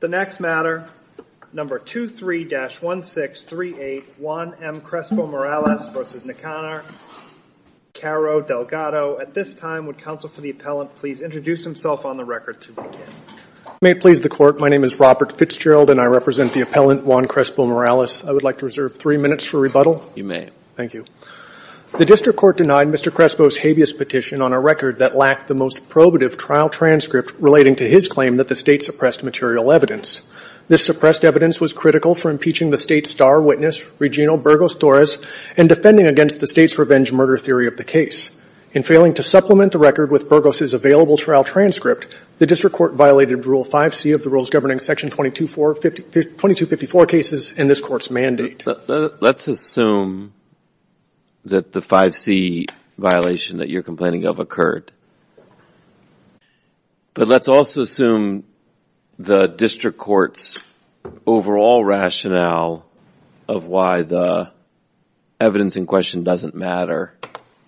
The next matter, number 23-1638, Juan M. Crespo-Morales v. Nicanor, Caro-Delgado. At this time, would counsel for the appellant please introduce himself on the record to begin. May it please the Court, my name is Robert Fitzgerald and I represent the appellant, Juan Crespo-Morales. I would like to reserve three minutes for rebuttal. You may. Thank you. The District Court denied Mr. Crespo's habeas petition on a record that lacked the most probative trial transcript relating to his claim that the State suppressed material evidence. This suppressed evidence was critical for impeaching the State's star witness, Regino Burgos-Torres, and defending against the State's revenge murder theory of the case. In failing to supplement the record with Burgos' available trial transcript, the District Court violated Rule 5c of the rules governing Section 2254 cases in this Court's mandate. Let's assume that the 5c violation that you're complaining of occurred. But let's also assume the District Court's overall rationale of why the evidence in question doesn't matter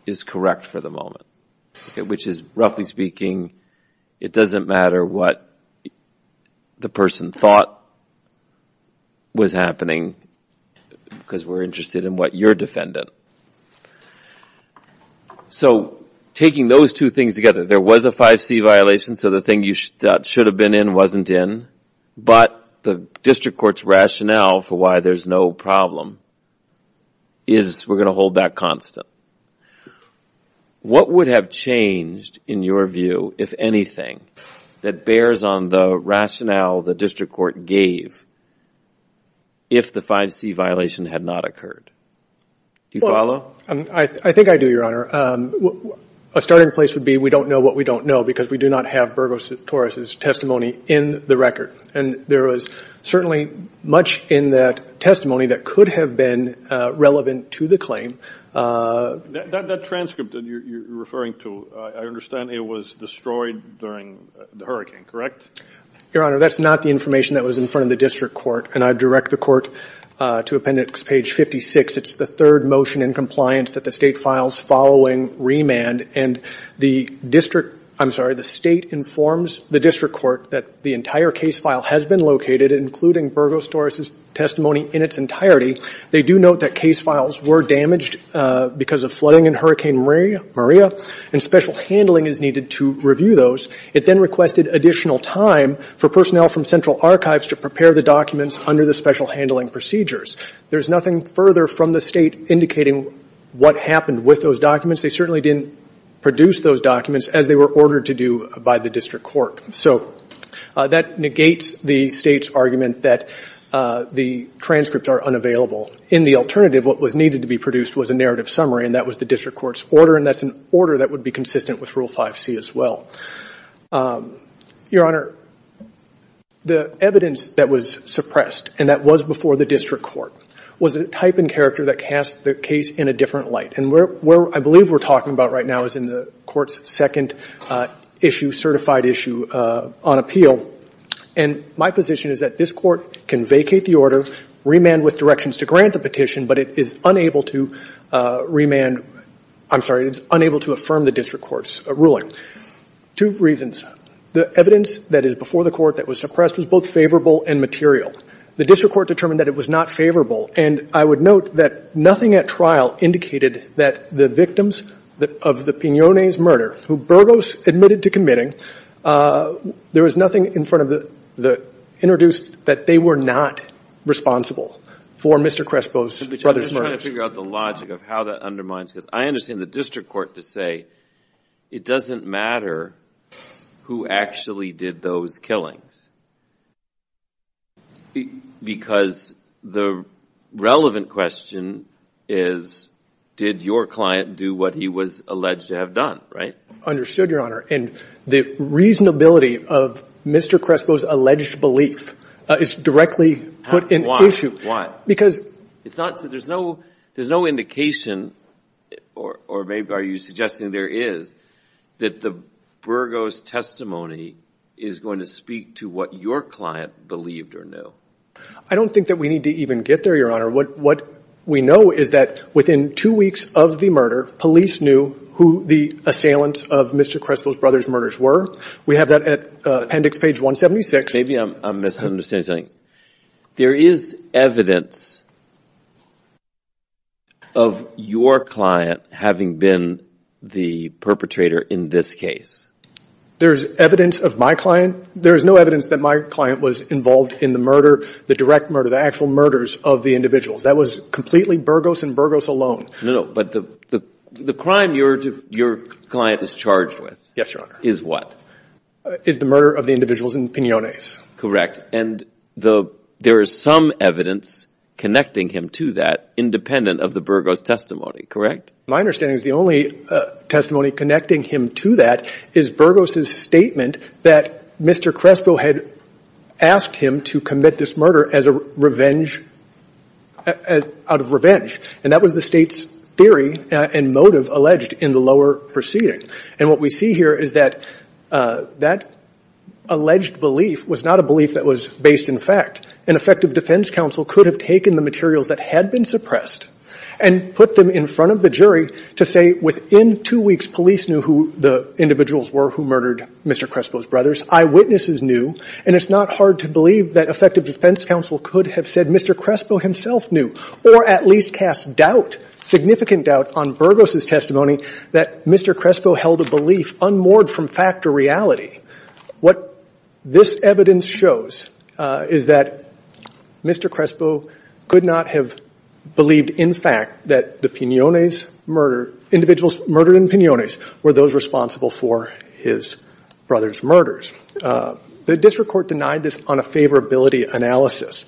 is correct for the moment. Which is, roughly speaking, it doesn't matter what the person thought was happening because we're interested in what you're defending. So taking those two things together, there was a 5c violation, so the thing you thought should have been in wasn't in, but the District Court's rationale for why there's no problem is we're going to hold that constant. What would have changed, in your view, if anything, that bears on the rationale the District Court gave if the 5c violation had not occurred? Do you follow? I think I do, Your Honor. A starting place would be we don't know what we don't know because we do not have Burgos' testimony in the record. And there was certainly much in that testimony that could have been relevant to the claim. That transcript that you're referring to, I understand it was destroyed during the hurricane, correct? Your Honor, that's not the information that was in front of the District Court, and I direct the Court to Appendix Page 56. It's the third motion in compliance that the State files following remand, and the State informs the District Court that the entire case file has been located, including Burgos-Torres' testimony in its entirety. They do note that case files were damaged because of flooding in Hurricane Maria, and special handling is needed to review those. It then requested additional time for personnel from Central Archives to prepare the documents under the special handling procedures. There's nothing further from the State indicating what happened with those documents. They certainly didn't produce those documents as they were ordered to do by the District Court. So that negates the State's argument that the transcripts are unavailable. In the alternative, what was needed to be produced was a narrative summary, and that was the District Court's order, and that's an order that would be consistent with Rule 5C as well. Your Honor, the evidence that was suppressed, and that was before the District Court, was a type and character that cast the case in a different light. And where I believe we're talking about right now is in the Court's second issue, certified issue, on appeal. And my position is that this Court can vacate the order, remand with directions to grant the petition, but it is unable to affirm the District Court's ruling. Two reasons. The evidence that is before the Court that was suppressed was both favorable and material. The District Court determined that it was not favorable, and I would note that nothing at trial indicated that the victims of the Pinones murder, who Burgos admitted to committing, there was nothing introduced that they were not responsible for Mr. Crespo's brother's murder. I'm just trying to figure out the logic of how that undermines this. I understand the District Court to say it doesn't matter who actually did those killings, because the relevant question is did your client do what he was alleged to have done, right? Understood, Your Honor. And the reasonability of Mr. Crespo's alleged belief is directly put in issue. There's no indication, or maybe are you suggesting there is, that the Burgos testimony is going to speak to what your client believed or knew. I don't think that we need to even get there, Your Honor. What we know is that within two weeks of the murder, police knew who the assailants of Mr. Crespo's brother's murders were. We have that at appendix page 176. Maybe I'm misunderstanding something. There is evidence of your client having been the perpetrator in this case. There's evidence of my client? There is no evidence that my client was involved in the murder, the direct murder, the actual murders of the individuals. That was completely Burgos and Burgos alone. No, no, but the crime your client is charged with is what? Is the murder of the individuals in Pinones. Correct. And there is some evidence connecting him to that, independent of the Burgos testimony, correct? My understanding is the only testimony connecting him to that is Burgos' statement that Mr. Crespo had asked him to commit this murder out of revenge, and that was the State's theory and motive alleged in the lower proceeding. And what we see here is that that alleged belief was not a belief that was based in fact. An effective defense counsel could have taken the materials that had been suppressed and put them in front of the jury to say within two weeks police knew who the individuals were who murdered Mr. Crespo's brothers, eyewitnesses knew, and it's not hard to believe that effective defense counsel could have said Mr. Crespo himself knew or at least cast doubt, significant doubt, on Burgos' testimony that Mr. Crespo held a belief unmoored from fact to reality. What this evidence shows is that Mr. Crespo could not have believed in fact that the individuals murdered in Pinones were those responsible for his brother's murders. The district court denied this on a favorability analysis.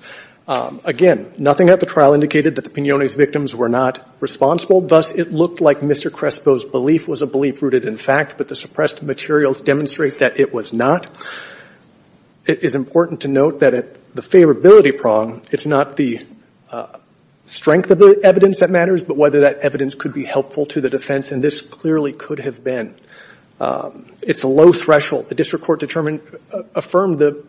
Again, nothing at the trial indicated that the Pinones victims were not responsible, thus it looked like Mr. Crespo's belief was a belief rooted in fact, but the suppressed materials demonstrate that it was not. It is important to note that at the favorability prong, it's not the strength of the evidence that matters, but whether that evidence could be helpful to the defense, and this clearly could have been. It's a low threshold. The district court determined, affirmed the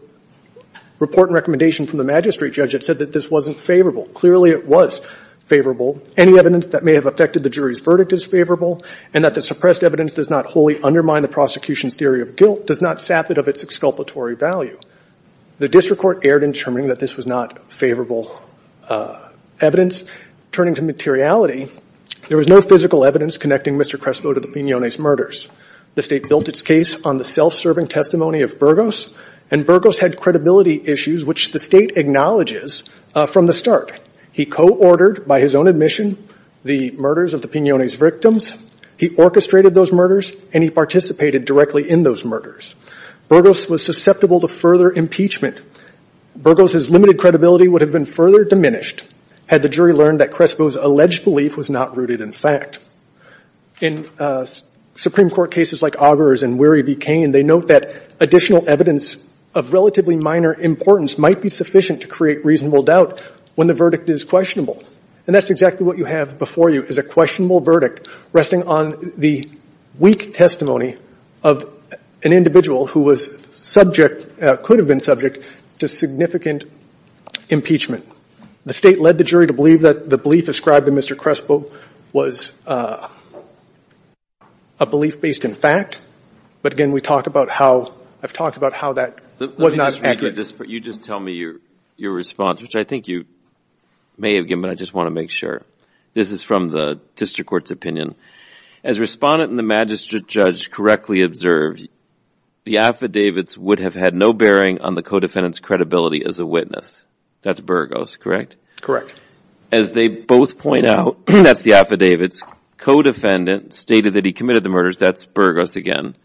report and recommendation from the magistrate judge that said that this wasn't favorable. Clearly it was favorable. Any evidence that may have affected the jury's verdict is favorable, and that the suppressed evidence does not wholly undermine the prosecution's theory of guilt does not sap it of its exculpatory value. The district court erred in determining that this was not favorable evidence. Turning to materiality, there was no physical evidence connecting Mr. Crespo to the Pinones murders. The state built its case on the self-serving testimony of Burgos, and Burgos had credibility issues which the state acknowledges from the start. He co-ordered, by his own admission, the murders of the Pinones victims. He orchestrated those murders, and he participated directly in those murders. Burgos was susceptible to further impeachment. Burgos's limited credibility would have been further diminished had the jury learned that Crespo's alleged belief was not rooted in fact. In Supreme Court cases like Auger's and Wehry v. Cain, they note that additional evidence of relatively minor importance might be sufficient to create reasonable doubt when the verdict is questionable. And that's exactly what you have before you is a questionable verdict resting on the weak testimony of an individual who was subject, could have been subject, to significant impeachment. The state led the jury to believe that the belief ascribed to Mr. Crespo was a belief based in fact, but again, we talked about how, I've talked about how that was not accurate. You just tell me your response, which I think you may have given, but I just want to make sure. This is from the district court's opinion. As respondent and the magistrate judge correctly observed, the affidavits would have had no bearing on the co-defendant's credibility as a witness. That's Burgos, correct? As they both point out, that's the affidavits, co-defendant stated that he committed the murders, that's Burgos again,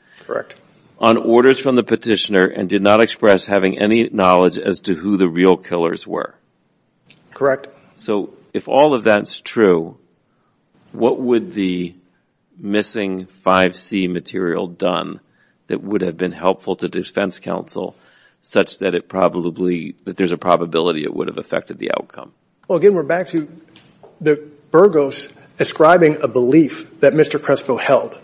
on orders from the petitioner and did not express having any knowledge as to who the real killers were. Correct. So if all of that's true, what would the missing 5C material done that would have been helpful to defense counsel such that it probably, that there's a probability it would have affected the outcome? Well, again, we're back to the Burgos ascribing a belief that Mr. Crespo held.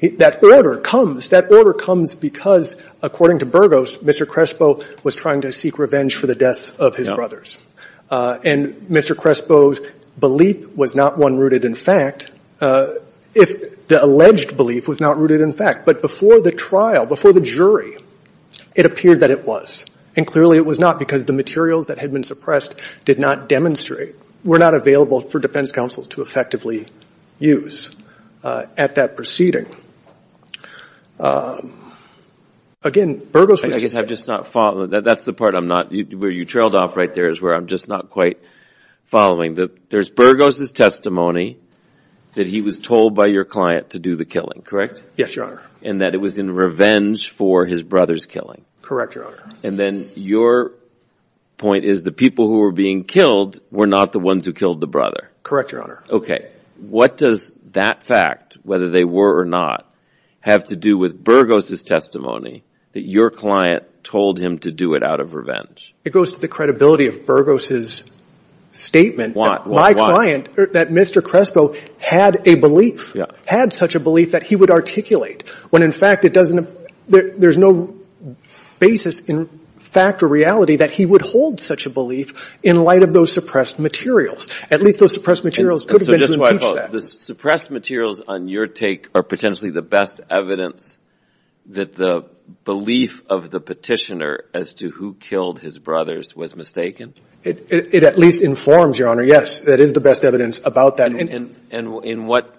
That order comes, that order comes because according to Burgos, Mr. Crespo was trying to seek revenge for the death of his brothers. And Mr. Crespo's belief was not one rooted in fact, if the alleged belief was not rooted in fact. But before the trial, before the jury, it appeared that it was. And clearly it was not because the materials that had been suppressed did not demonstrate, were not available for defense counsel to effectively use at that proceeding. Again, Burgos was... I guess I've just not followed, that's the part I'm not, where you trailed off right there is where I'm just not quite following. There's Burgos' testimony that he was told by your client to do the killing, correct? Yes, Your Honor. And that it was in revenge for his brother's killing? Correct, Your Honor. And then your point is the people who were being killed were not the ones who killed the brother? Correct, Your Honor. Okay. What does that fact, whether they were or not, have to do with Burgos' testimony that your client told him to do it out of revenge? It goes to the credibility of Burgos' statement. My client, that Mr. Crespo had a belief, had such a belief that he would articulate, when in fact it doesn't, there's no basis in fact or reality that he would hold such a belief in light of those suppressed materials. At least those suppressed materials could have been to impeach that. So just so I follow, the suppressed materials on your take are potentially the best evidence that the belief of the petitioner as to who killed his brothers was mistaken? It at least informs, Your Honor, yes, that is the best evidence about that. And in what,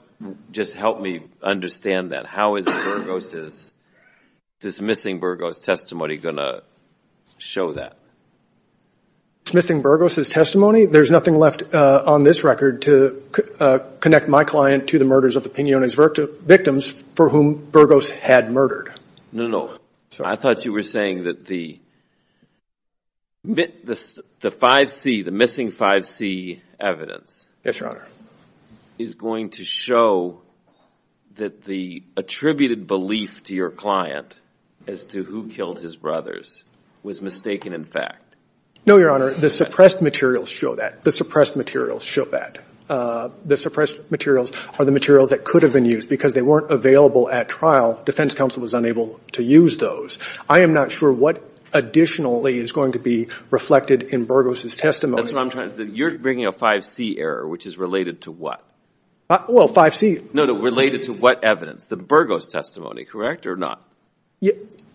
just help me understand that, how is this missing Burgos' testimony going to show that? Missing Burgos' testimony? There's nothing left on this record to connect my client to the murders of the Pinones victims for whom Burgos had murdered. No, no. I thought you were saying that the missing 5C evidence Yes, Your Honor. is going to show that the attributed belief to your client as to who killed his brothers was mistaken in fact? No, Your Honor. The suppressed materials show that. The suppressed materials show that. The suppressed materials are the materials that could have been used because they weren't available at trial. Defense counsel was unable to use those. I am not sure what additionally is going to be reflected in Burgos' testimony. That's what I'm trying to say. You're bringing a 5C error, which is related to what? Well, 5C. No, related to what evidence? The Burgos' testimony, correct or not?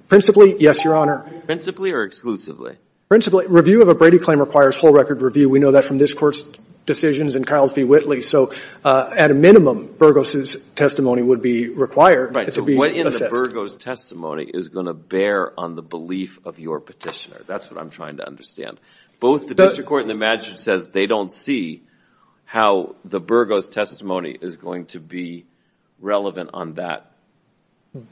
Principally, yes, Your Honor. Principally or exclusively? Principally. Review of a Brady claim requires full record review. We know that from this Court's decisions and Carlsby-Whitley. So at a minimum, Burgos' testimony would be required to be assessed. So what in the Burgos' testimony is going to bear on the belief of your petitioner? That's what I'm trying to understand. Both the district court and the magistrate says they don't see how the Burgos' testimony is going to be relevant on that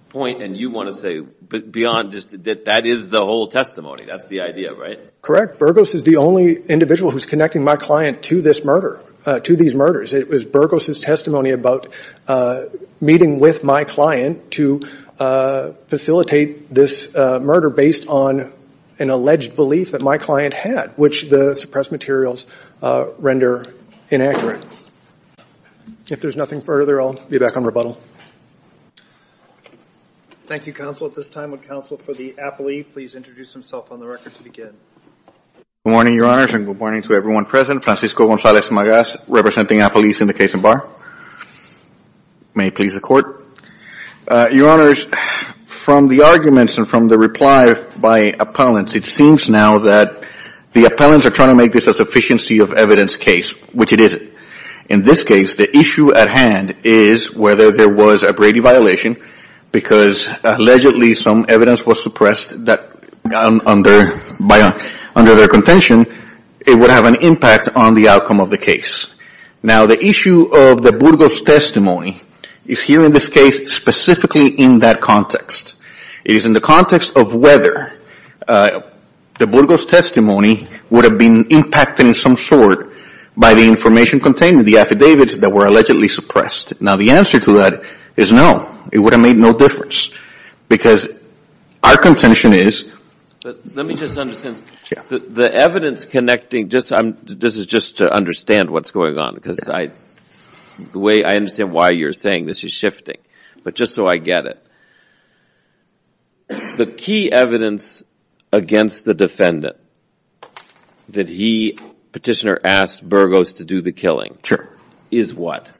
point. And you want to say that that is the whole testimony. That's the idea, right? Correct. Burgos is the only individual who is connecting my client to this murder, to these murders. It was Burgos' testimony about meeting with my client to facilitate this murder based on an alleged belief that my client had, which the suppressed materials render inaccurate. If there's nothing further, I'll be back on rebuttal. Thank you, Counsel. At this time, would Counsel for the applee please introduce himself on the record to begin? Good morning, Your Honors, and good morning to everyone present. Francisco Gonzalez Magas, representing applees in the case of Barr. May it please the Court. Your Honors, from the arguments and from the reply by appellants, it seems now that the appellants are trying to make this a sufficiency of evidence case, which it isn't. In this case, the issue at hand is whether there was a Brady violation because allegedly some evidence was suppressed that under their contention, it would have an impact on the outcome of the case. Now, the issue of the Burgos' testimony is here in this case specifically in that context. It is in the context of whether the Burgos' testimony would have been impacted in some sort by the information contained in the affidavits that were allegedly suppressed. Now, the answer to that is no. It would have made no difference because our contention is... Let me just understand. Yeah. The evidence connecting... This is just to understand what's going on because I understand why you're saying this is shifting, but just so I get it. The key evidence against the defendant that he, Petitioner, asked Burgos to do the killing... Sure. ...is what?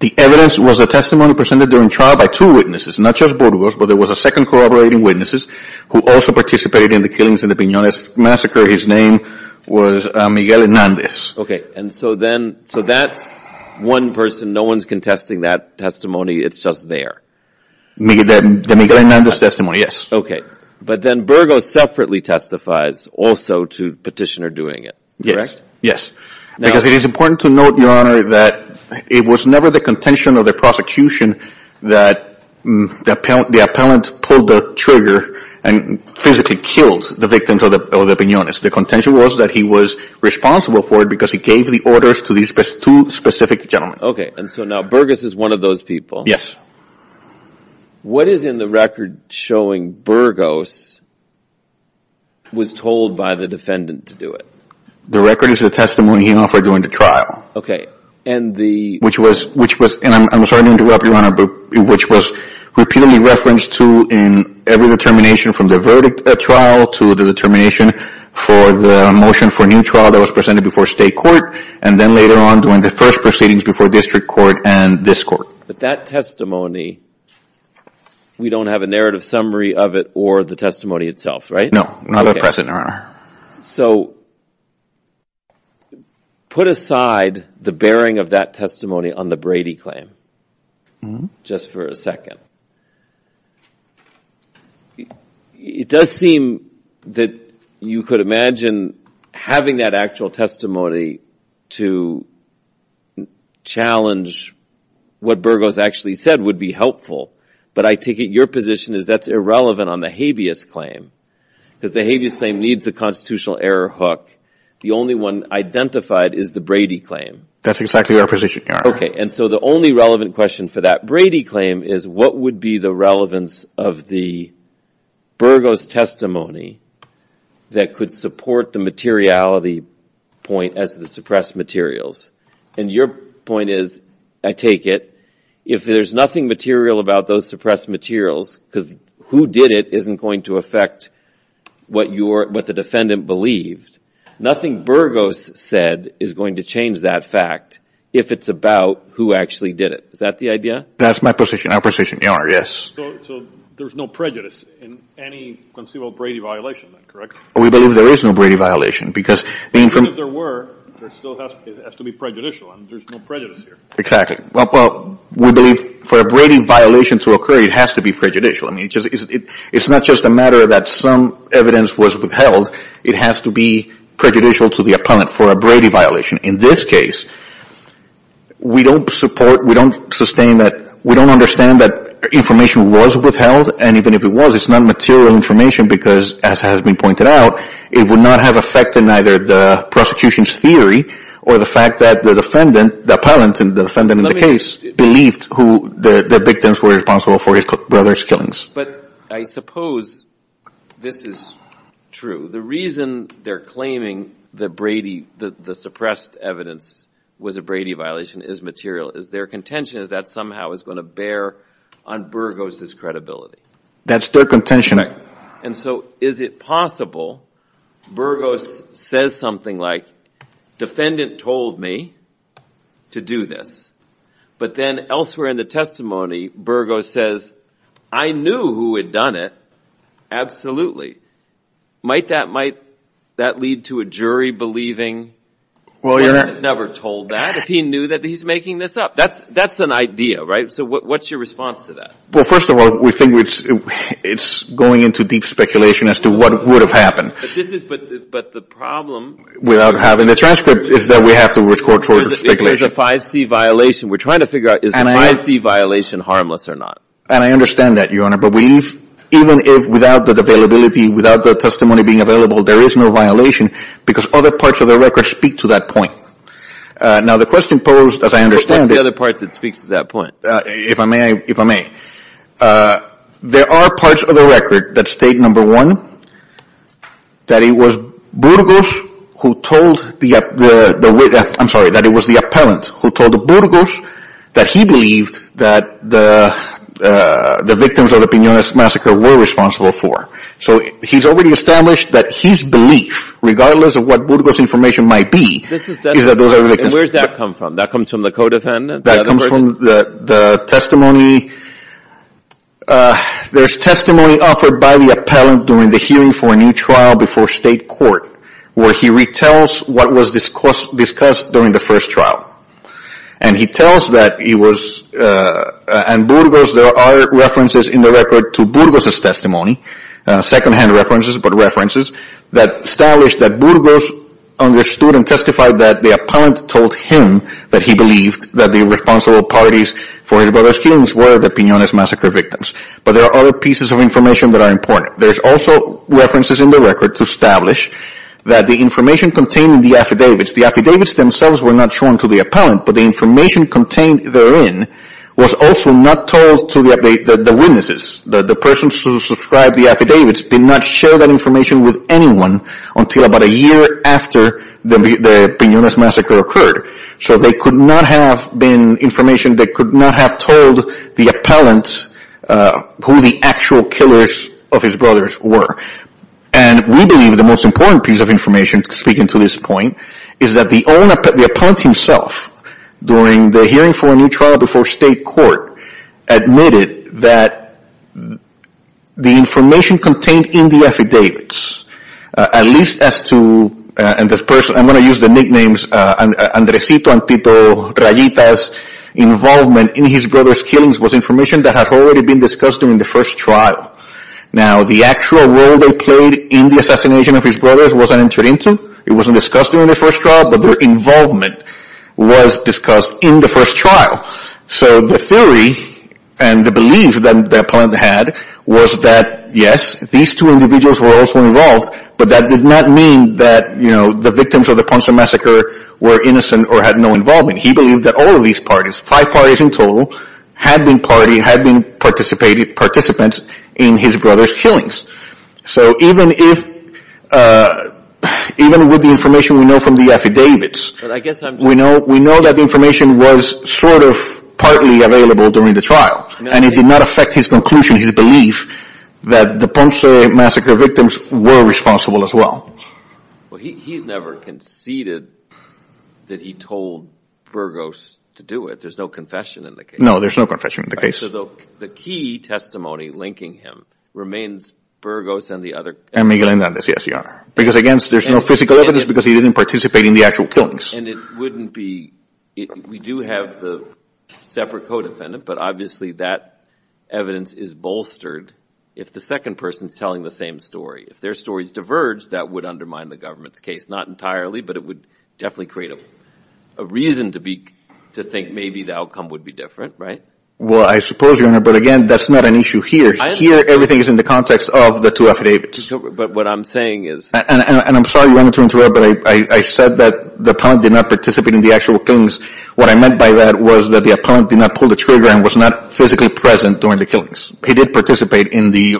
The evidence was a testimony presented during trial by two witnesses, not just Burgos, but there was a second corroborating witness who also was Miguel Hernandez. Okay. And so that's one person. No one's contesting that testimony. It's just there. The Miguel Hernandez testimony, yes. Okay. But then Burgos separately testifies also to Petitioner doing it. Yes. Yes. Because it is important to note, Your Honor, that it was never the contention of the prosecution that the appellant pulled the trigger and physically killed the victims or the piñones. The contention was that he was responsible for it because he gave the orders to these two specific gentlemen. And so now Burgos is one of those people. Yes. What is in the record showing Burgos was told by the defendant to do it? The record is the testimony he offered during the trial. Okay. And the... Which was, and I'm sorry to interrupt, Your Honor, but which was repeatedly referenced to in every determination from the verdict trial to the determination for the motion for a new trial that was presented before state court, and then later on during the first proceedings before district court and this court. But that testimony, we don't have a narrative summary of it or the testimony itself, right? No, not at present, Your Honor. So put aside the bearing of that testimony on the Brady claim just for a second. It does seem that you could imagine having that actual testimony to challenge what Burgos actually said would be helpful. But I take it your position is that's irrelevant on the habeas claim because the habeas claim needs a constitutional error hook. The only one identified is the Brady claim. That's exactly our position, Your Honor. Okay. And so the only relevant question for that Brady claim is what would be the relevance of the Burgos testimony that could support the materiality point as the suppressed materials. And your point is, I take it, if there's nothing material about those suppressed materials because who did it isn't going to affect what the defendant believed, nothing Burgos said is going to change that fact if it's about who actually did it. Is that the idea? That's my position, Your Honor, yes. So there's no prejudice in any conceivable Brady violation, correct? We believe there is no Brady violation. Even if there were, it still has to be prejudicial. There's no prejudice here. Exactly. Well, we believe for a Brady violation to occur, it has to be prejudicial. It's not just a matter that some evidence was withheld. It has to be prejudicial to the appellant for a Brady violation. In this case, we don't support, we don't sustain that, we don't understand that information was withheld. And even if it was, it's not material information because, as has been pointed out, it would not have affected neither the prosecution's theory or the fact that the defendant, the appellant and the defendant in the case, believed who the victims were responsible for his brother's killings. But I suppose this is true. The reason they're claiming that the suppressed evidence was a Brady violation is material. Is there contention that somehow is going to bear on Burgos' credibility? That's their contention. And so is it possible Burgos says something like, defendant told me to do this, but then elsewhere in the testimony, Burgos says, I knew who had done it. Absolutely. Might that lead to a jury believing the appellant never told that if he knew that he's making this up? That's an idea, right? So what's your response to that? Well, first of all, we think it's going into deep speculation as to what would have happened. But the problem without having the transcript is that we have to resort to speculation. It's a 5C violation. We're trying to figure out is the 5C violation harmless or not. And I understand that, Your Honor. But even without the availability, without the testimony being available, there is no violation because other parts of the record speak to that point. Now, the question posed, as I understand it – What's the other part that speaks to that point? If I may, if I may. There are parts of the record that state, number one, that it was Burgos who told the – I'm sorry, that it was the appellant who told Burgos that he believed that the victims of the Piñones massacre were responsible for. So he's already established that his belief, regardless of what Burgos' information might be, is that those are the victims. And where does that come from? That comes from the co-defendant? That comes from the testimony. There's testimony offered by the appellant during the hearing for a new trial before state court where he retells what was discussed during the first trial. And he tells that he was – and Burgos, there are references in the record to Burgos' testimony, secondhand references, but references, that established that Burgos understood and testified that the appellant told him that he believed that the responsible parties for his brother's killings were the Piñones massacre victims. But there are other pieces of information that are important. There's also references in the record to establish that the information contained in the affidavits, the affidavits themselves were not shown to the appellant, but the information contained therein was also not told to the witnesses, that the persons who subscribed the affidavits did not share that information with anyone until about a year after the Piñones massacre occurred. So there could not have been information that could not have told the appellant who the actual killers of his brothers were. And we believe the most important piece of information, speaking to this point, is that the appellant himself, during the hearing for a new trial before state court, admitted that the information contained in the affidavits, at least as to – I'm going to use the nicknames Andresito and Tito Rayitas, involvement in his brother's killings was information that had already been discussed during the first trial. Now, the actual role they played in the assassination of his brothers wasn't entered into, it wasn't discussed during the first trial, but their involvement was discussed in the first trial. So the theory and the belief that the appellant had was that, yes, these two individuals were also involved, but that did not mean that the victims of the Ponce massacre were innocent or had no involvement. He believed that all of these parties, five parties in total, had been participants in his brother's killings. So even with the information we know from the affidavits, we know that the information was sort of partly available during the trial, and it did not affect his conclusion, his belief that the Ponce massacre victims were responsible as well. Well, he's never conceded that he told Burgos to do it. There's no confession in the case. No, there's no confession in the case. So the key testimony linking him remains Burgos and the other – And Miguel Andres, yes, Your Honor. Because, again, there's no physical evidence because he didn't participate in the actual killings. And it wouldn't be – we do have the separate co-defendant, but obviously that evidence is bolstered if the second person is telling the same story. If their stories diverge, that would undermine the government's case. Not entirely, but it would definitely create a reason to think maybe the outcome would be different, right? Well, I suppose, Your Honor, but, again, that's not an issue here. Here, everything is in the context of the two affidavits. But what I'm saying is – And I'm sorry, Your Honor, to interrupt, but I said that the appellant did not participate in the actual killings. What I meant by that was that the appellant did not pull the trigger and was not physically present during the killings. He did participate in the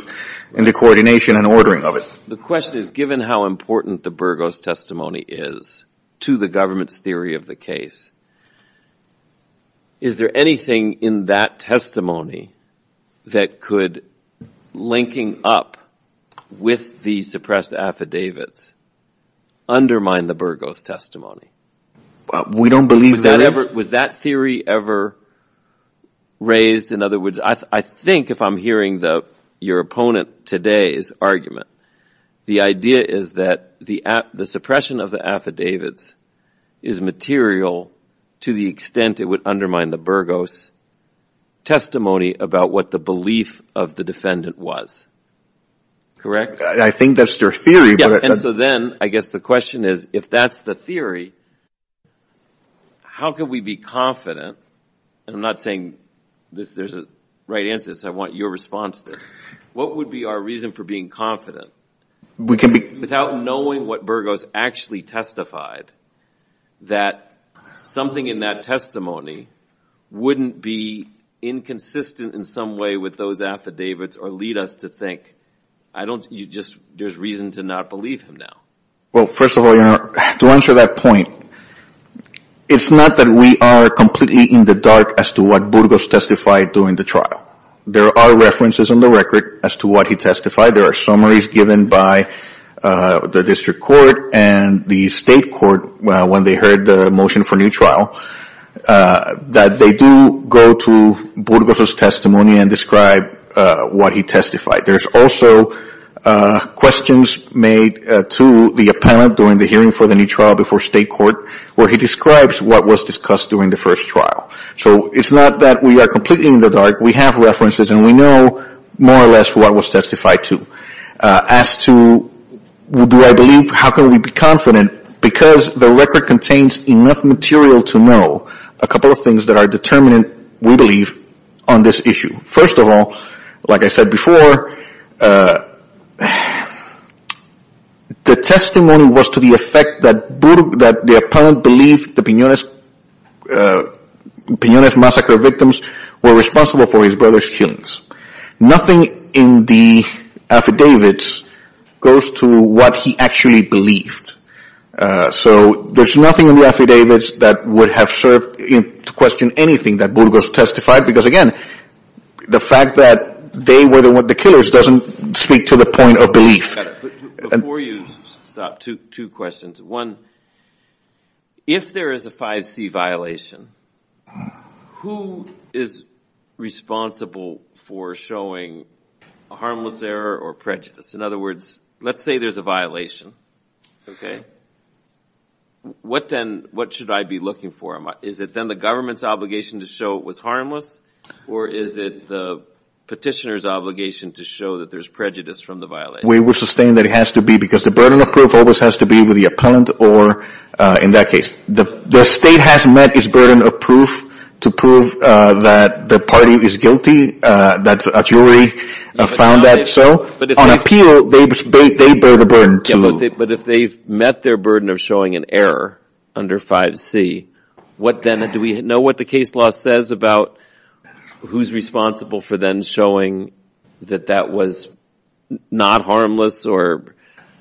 coordination and ordering of it. The question is, given how important the Burgos testimony is to the government's theory of the case, is there anything in that testimony that could, linking up with the suppressed affidavits, undermine the Burgos testimony? We don't believe that. Was that theory ever raised? In other words, I think if I'm hearing your opponent today's argument, the idea is that the suppression of the affidavits is material to the extent it would undermine the Burgos testimony about what the belief of the defendant was. I think that's their theory, but – Yeah, and so then, I guess the question is, if that's the theory, how can we be confident – and I'm not saying there's a right answer to this. I want your response to this. What would be our reason for being confident, without knowing what Burgos actually testified, that something in that testimony wouldn't be inconsistent in some way with those affidavits or lead us to think, there's reason to not believe him now? Well, first of all, to answer that point, it's not that we are completely in the dark as to what Burgos testified during the trial. There are references in the record as to what he testified. There are summaries given by the District Court and the State Court when they heard the motion for new trial, that they do go to Burgos' testimony and describe what he testified. There's also questions made to the appellant during the hearing for the new trial before State Court, where he describes what was discussed during the first trial. So it's not that we are completely in the dark. We have references and we know more or less what was testified to. As to do I believe, how can we be confident, because the record contains enough material to know a couple of things that are determinant, we believe, on this issue. First of all, like I said before, the testimony was to the effect that the appellant believed the Piñones massacre victims were responsible for his brother's killings. Nothing in the affidavits goes to what he actually believed. So there's nothing in the affidavits that would have served to question anything that Burgos testified, because again, the fact that they were the killers doesn't speak to the point of belief. Before you stop, two questions. One, if there is a 5C violation, who is responsible for showing a harmless error or prejudice? In other words, let's say there's a violation. What should I be looking for? Is it then the government's obligation to show it was harmless, or is it the petitioner's obligation to show that there's prejudice from the violation? We would sustain that it has to be, because the burden of proof always has to be with the appellant or in that case. The state has met its burden of proof to prove that the party is guilty, that a jury found that so. On appeal, they bear the burden, too. But if they've met their burden of showing an error under 5C, what then, do we know what the case law says about who's responsible for then showing that that was not harmless?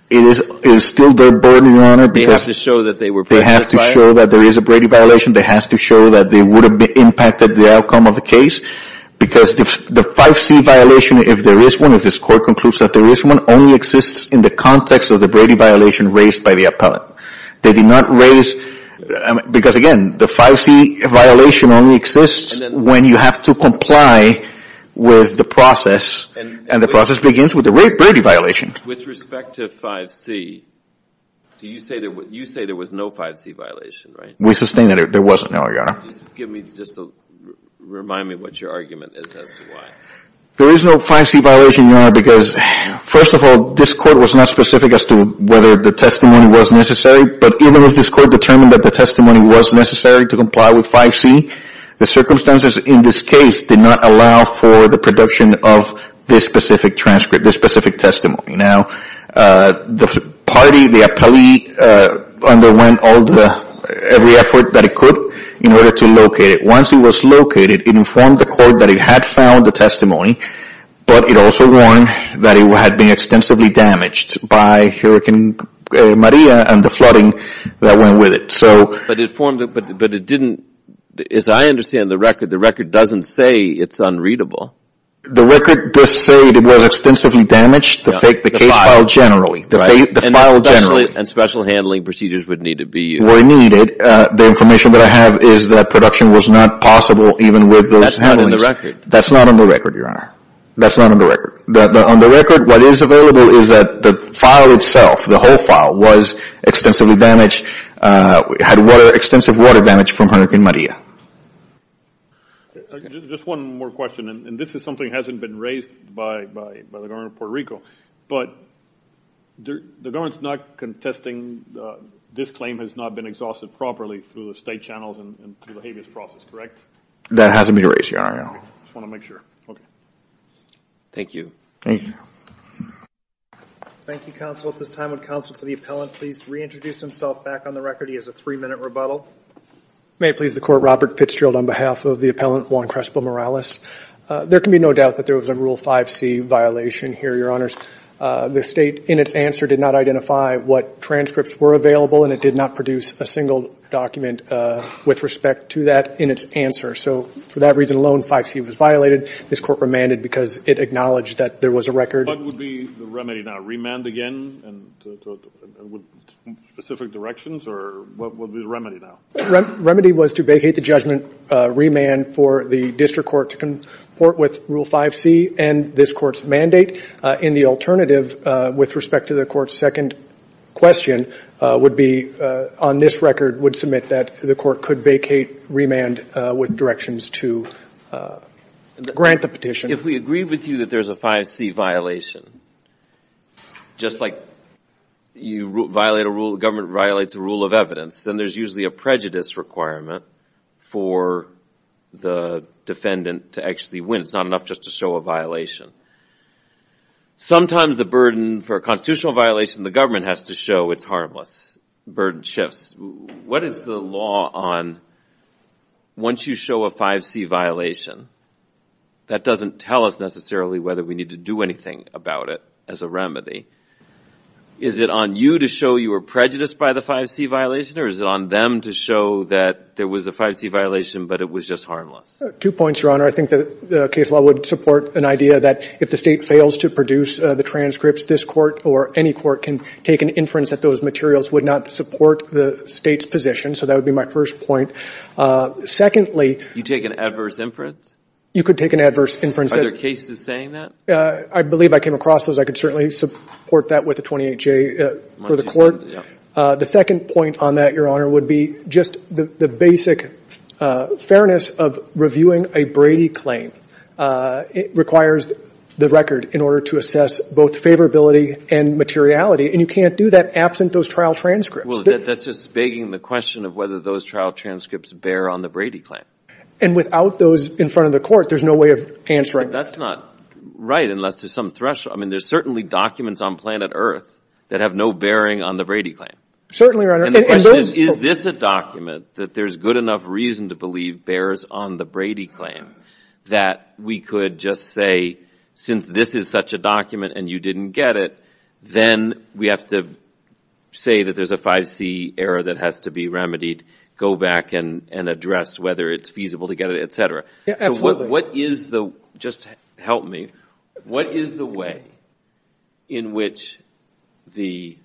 It is still their burden, Your Honor. They have to show that they were prejudiced by it? They have to show that there is a Brady violation. They have to show that they would have impacted the outcome of the case, because the 5C violation, if there is one, if this Court concludes that there is one, only exists in the context of the Brady violation raised by the appellant. They did not raise, because again, the 5C violation only exists when you have to comply with the process, and the process begins with the Brady violation. With respect to 5C, you say there was no 5C violation, right? We sustain that there wasn't, Your Honor. Just remind me what your argument is as to why. There is no 5C violation, Your Honor, because first of all, this Court was not specific as to whether the testimony was necessary, but even if this Court determined that the testimony was necessary to comply with 5C, the circumstances in this case did not allow for the production of this specific transcript, this specific testimony. Now, the party, the appellee, underwent every effort that it could in order to locate it. Once it was located, it informed the Court that it had found the testimony, but it also warned that it had been extensively damaged by Hurricane Maria and the flooding that went with it. But it didn't, as I understand the record, the record doesn't say it's unreadable. The record does say it was extensively damaged, the case file generally. The file generally. And special handling procedures would need to be used. Were needed. The information that I have is that production was not possible even with those handlings. That's not in the record. That's not in the record, Your Honor. That's not in the record. On the record, what is available is that the file itself, the whole file, was extensively damaged, had extensive water damage from Hurricane Maria. Just one more question. And this is something that hasn't been raised by the government of Puerto Rico. But the government is not contesting this claim has not been exhausted properly through the state channels and through the habeas process, correct? That hasn't been raised, Your Honor. I just want to make sure. Thank you. Thank you. Thank you, Counsel. At this time, would Counsel for the Appellant please reintroduce himself back on the record? He has a three-minute rebuttal. May it please the Court, Robert Fitzgerald on behalf of the Appellant Juan Crespo Morales. There can be no doubt that there was a Rule 5c violation here, Your Honors. The State, in its answer, did not identify what transcripts were available and it did not produce a single document with respect to that in its answer. So for that reason alone, 5c was violated. This Court remanded because it acknowledged that there was a record. What would be the remedy now? Remand again with specific directions or what would be the remedy now? The remedy was to vacate the judgment, remand for the District Court to comport with Rule 5c and this Court's mandate. And the alternative with respect to the Court's second question would be, on this record, would submit that the Court could vacate remand with directions to grant the petition. If we agree with you that there's a 5c violation, just like you violate a rule, the government violates a rule of evidence, then there's usually a prejudice requirement for the defendant to actually win. It's not enough just to show a violation. Sometimes the burden for a constitutional violation, the government has to show it's harmless. Burden shifts. What is the law on once you show a 5c violation, that doesn't tell us necessarily whether we need to do anything about it as a remedy. Is it on you to show you were prejudiced by the 5c violation or is it on them to show that there was a 5c violation but it was just harmless? Two points, Your Honor. I think the case law would support an idea that if the State fails to produce the transcripts, this Court or any Court can take an inference that those materials would not support the State's position. So that would be my first point. Secondly... You take an adverse inference? You could take an adverse inference. Are there cases saying that? I believe I came across those. I could certainly support that with a 28J for the Court. The second point on that, Your Honor, would be just the basic fairness of reviewing a Brady claim. It requires the record in order to assess both favorability and materiality and you can't do that absent those trial transcripts. That's just begging the question of whether those trial transcripts bear on the Brady claim. And without those in front of the Court, there's no way of answering that. That's not right unless there's some threshold. There's certainly documents on planet Earth that have no bearing on the Brady claim. Certainly, Your Honor. Is this a document that there's good enough reason to believe bears on the Brady claim that we could just say, since this is such a document and you didn't get it, then we have to say that there's a 5C error that has to be remedied, go back and address whether it's feasible to get it, etc. So what is the... Just help me. What is the way in which the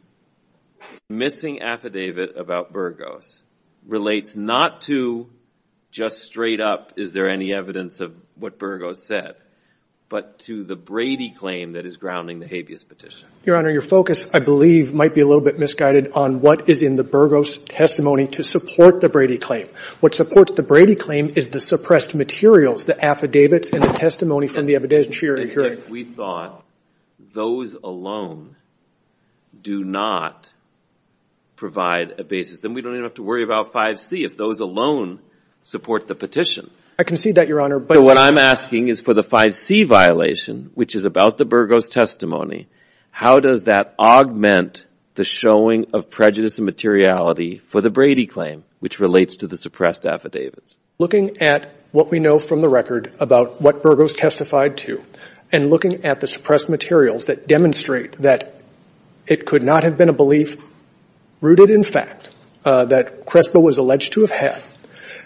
missing affidavit about Burgos relates not to just straight up, is there any evidence of what Burgos said, but to the Brady claim that is grounding the habeas petition? Your Honor, your focus, I believe, might be a little bit misguided on what is in the Burgos testimony to support the Brady claim. What supports the Brady claim is the suppressed materials, the affidavits and the testimony from the affidavits. And if we thought those alone do not provide a basis, then we don't even have to worry about 5C if those alone support the petition. I concede that, Your Honor, but... But what I'm asking is for the 5C violation, which is about the Burgos testimony, how does that augment the showing of prejudice and materiality for the Brady claim, which relates to the suppressed affidavits? Looking at what we know from the record about what Burgos testified to, and looking at the suppressed materials that demonstrate that it could not have been a belief rooted in fact that Crespo was alleged to have had,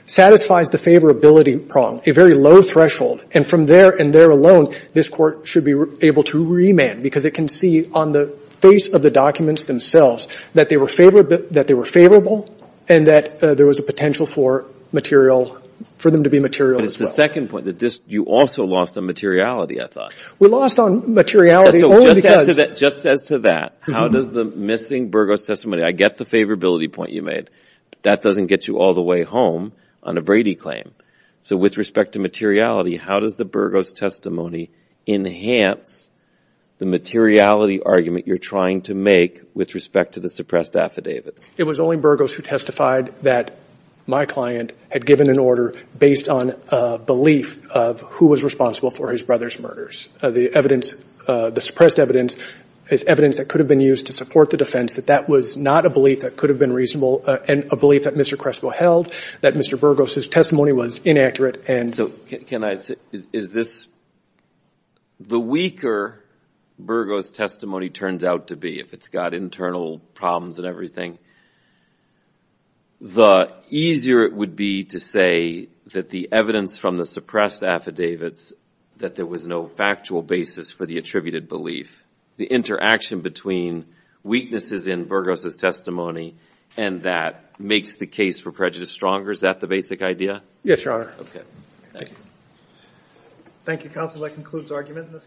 satisfies the favorability prong, a very low threshold. And from there and there alone, this Court should be able to remand because it can see on the face of the documents themselves that they were favorable and that there was a potential for material, for them to be material as well. But it's the second point, that you also lost on materiality, I thought. We lost on materiality only because... But just as to that, how does the missing Burgos testimony, I get the favorability point you made, that doesn't get you all the way home on a Brady claim. So with respect to materiality, how does the Burgos testimony enhance the materiality argument you're trying to make with respect to the suppressed affidavits? It was only Burgos who testified that my client had given an order based on a belief of who was responsible for his brother's murders. The evidence, the suppressed evidence is evidence that could have been used to support the defense, that that was not a belief that could have been reasonable and a belief that Mr. Crespo held, that Mr. Burgos' testimony was inaccurate and... So can I say, is this, the weaker Burgos' testimony turns out to be, if it's got internal problems and everything, the easier it would be to say that the evidence from the suppressed affidavits, that there was no factual basis for the attributed belief. The interaction between weaknesses in Burgos' testimony and that makes the case for prejudice stronger, is that the basic idea? Yes, Your Honor. Thank you.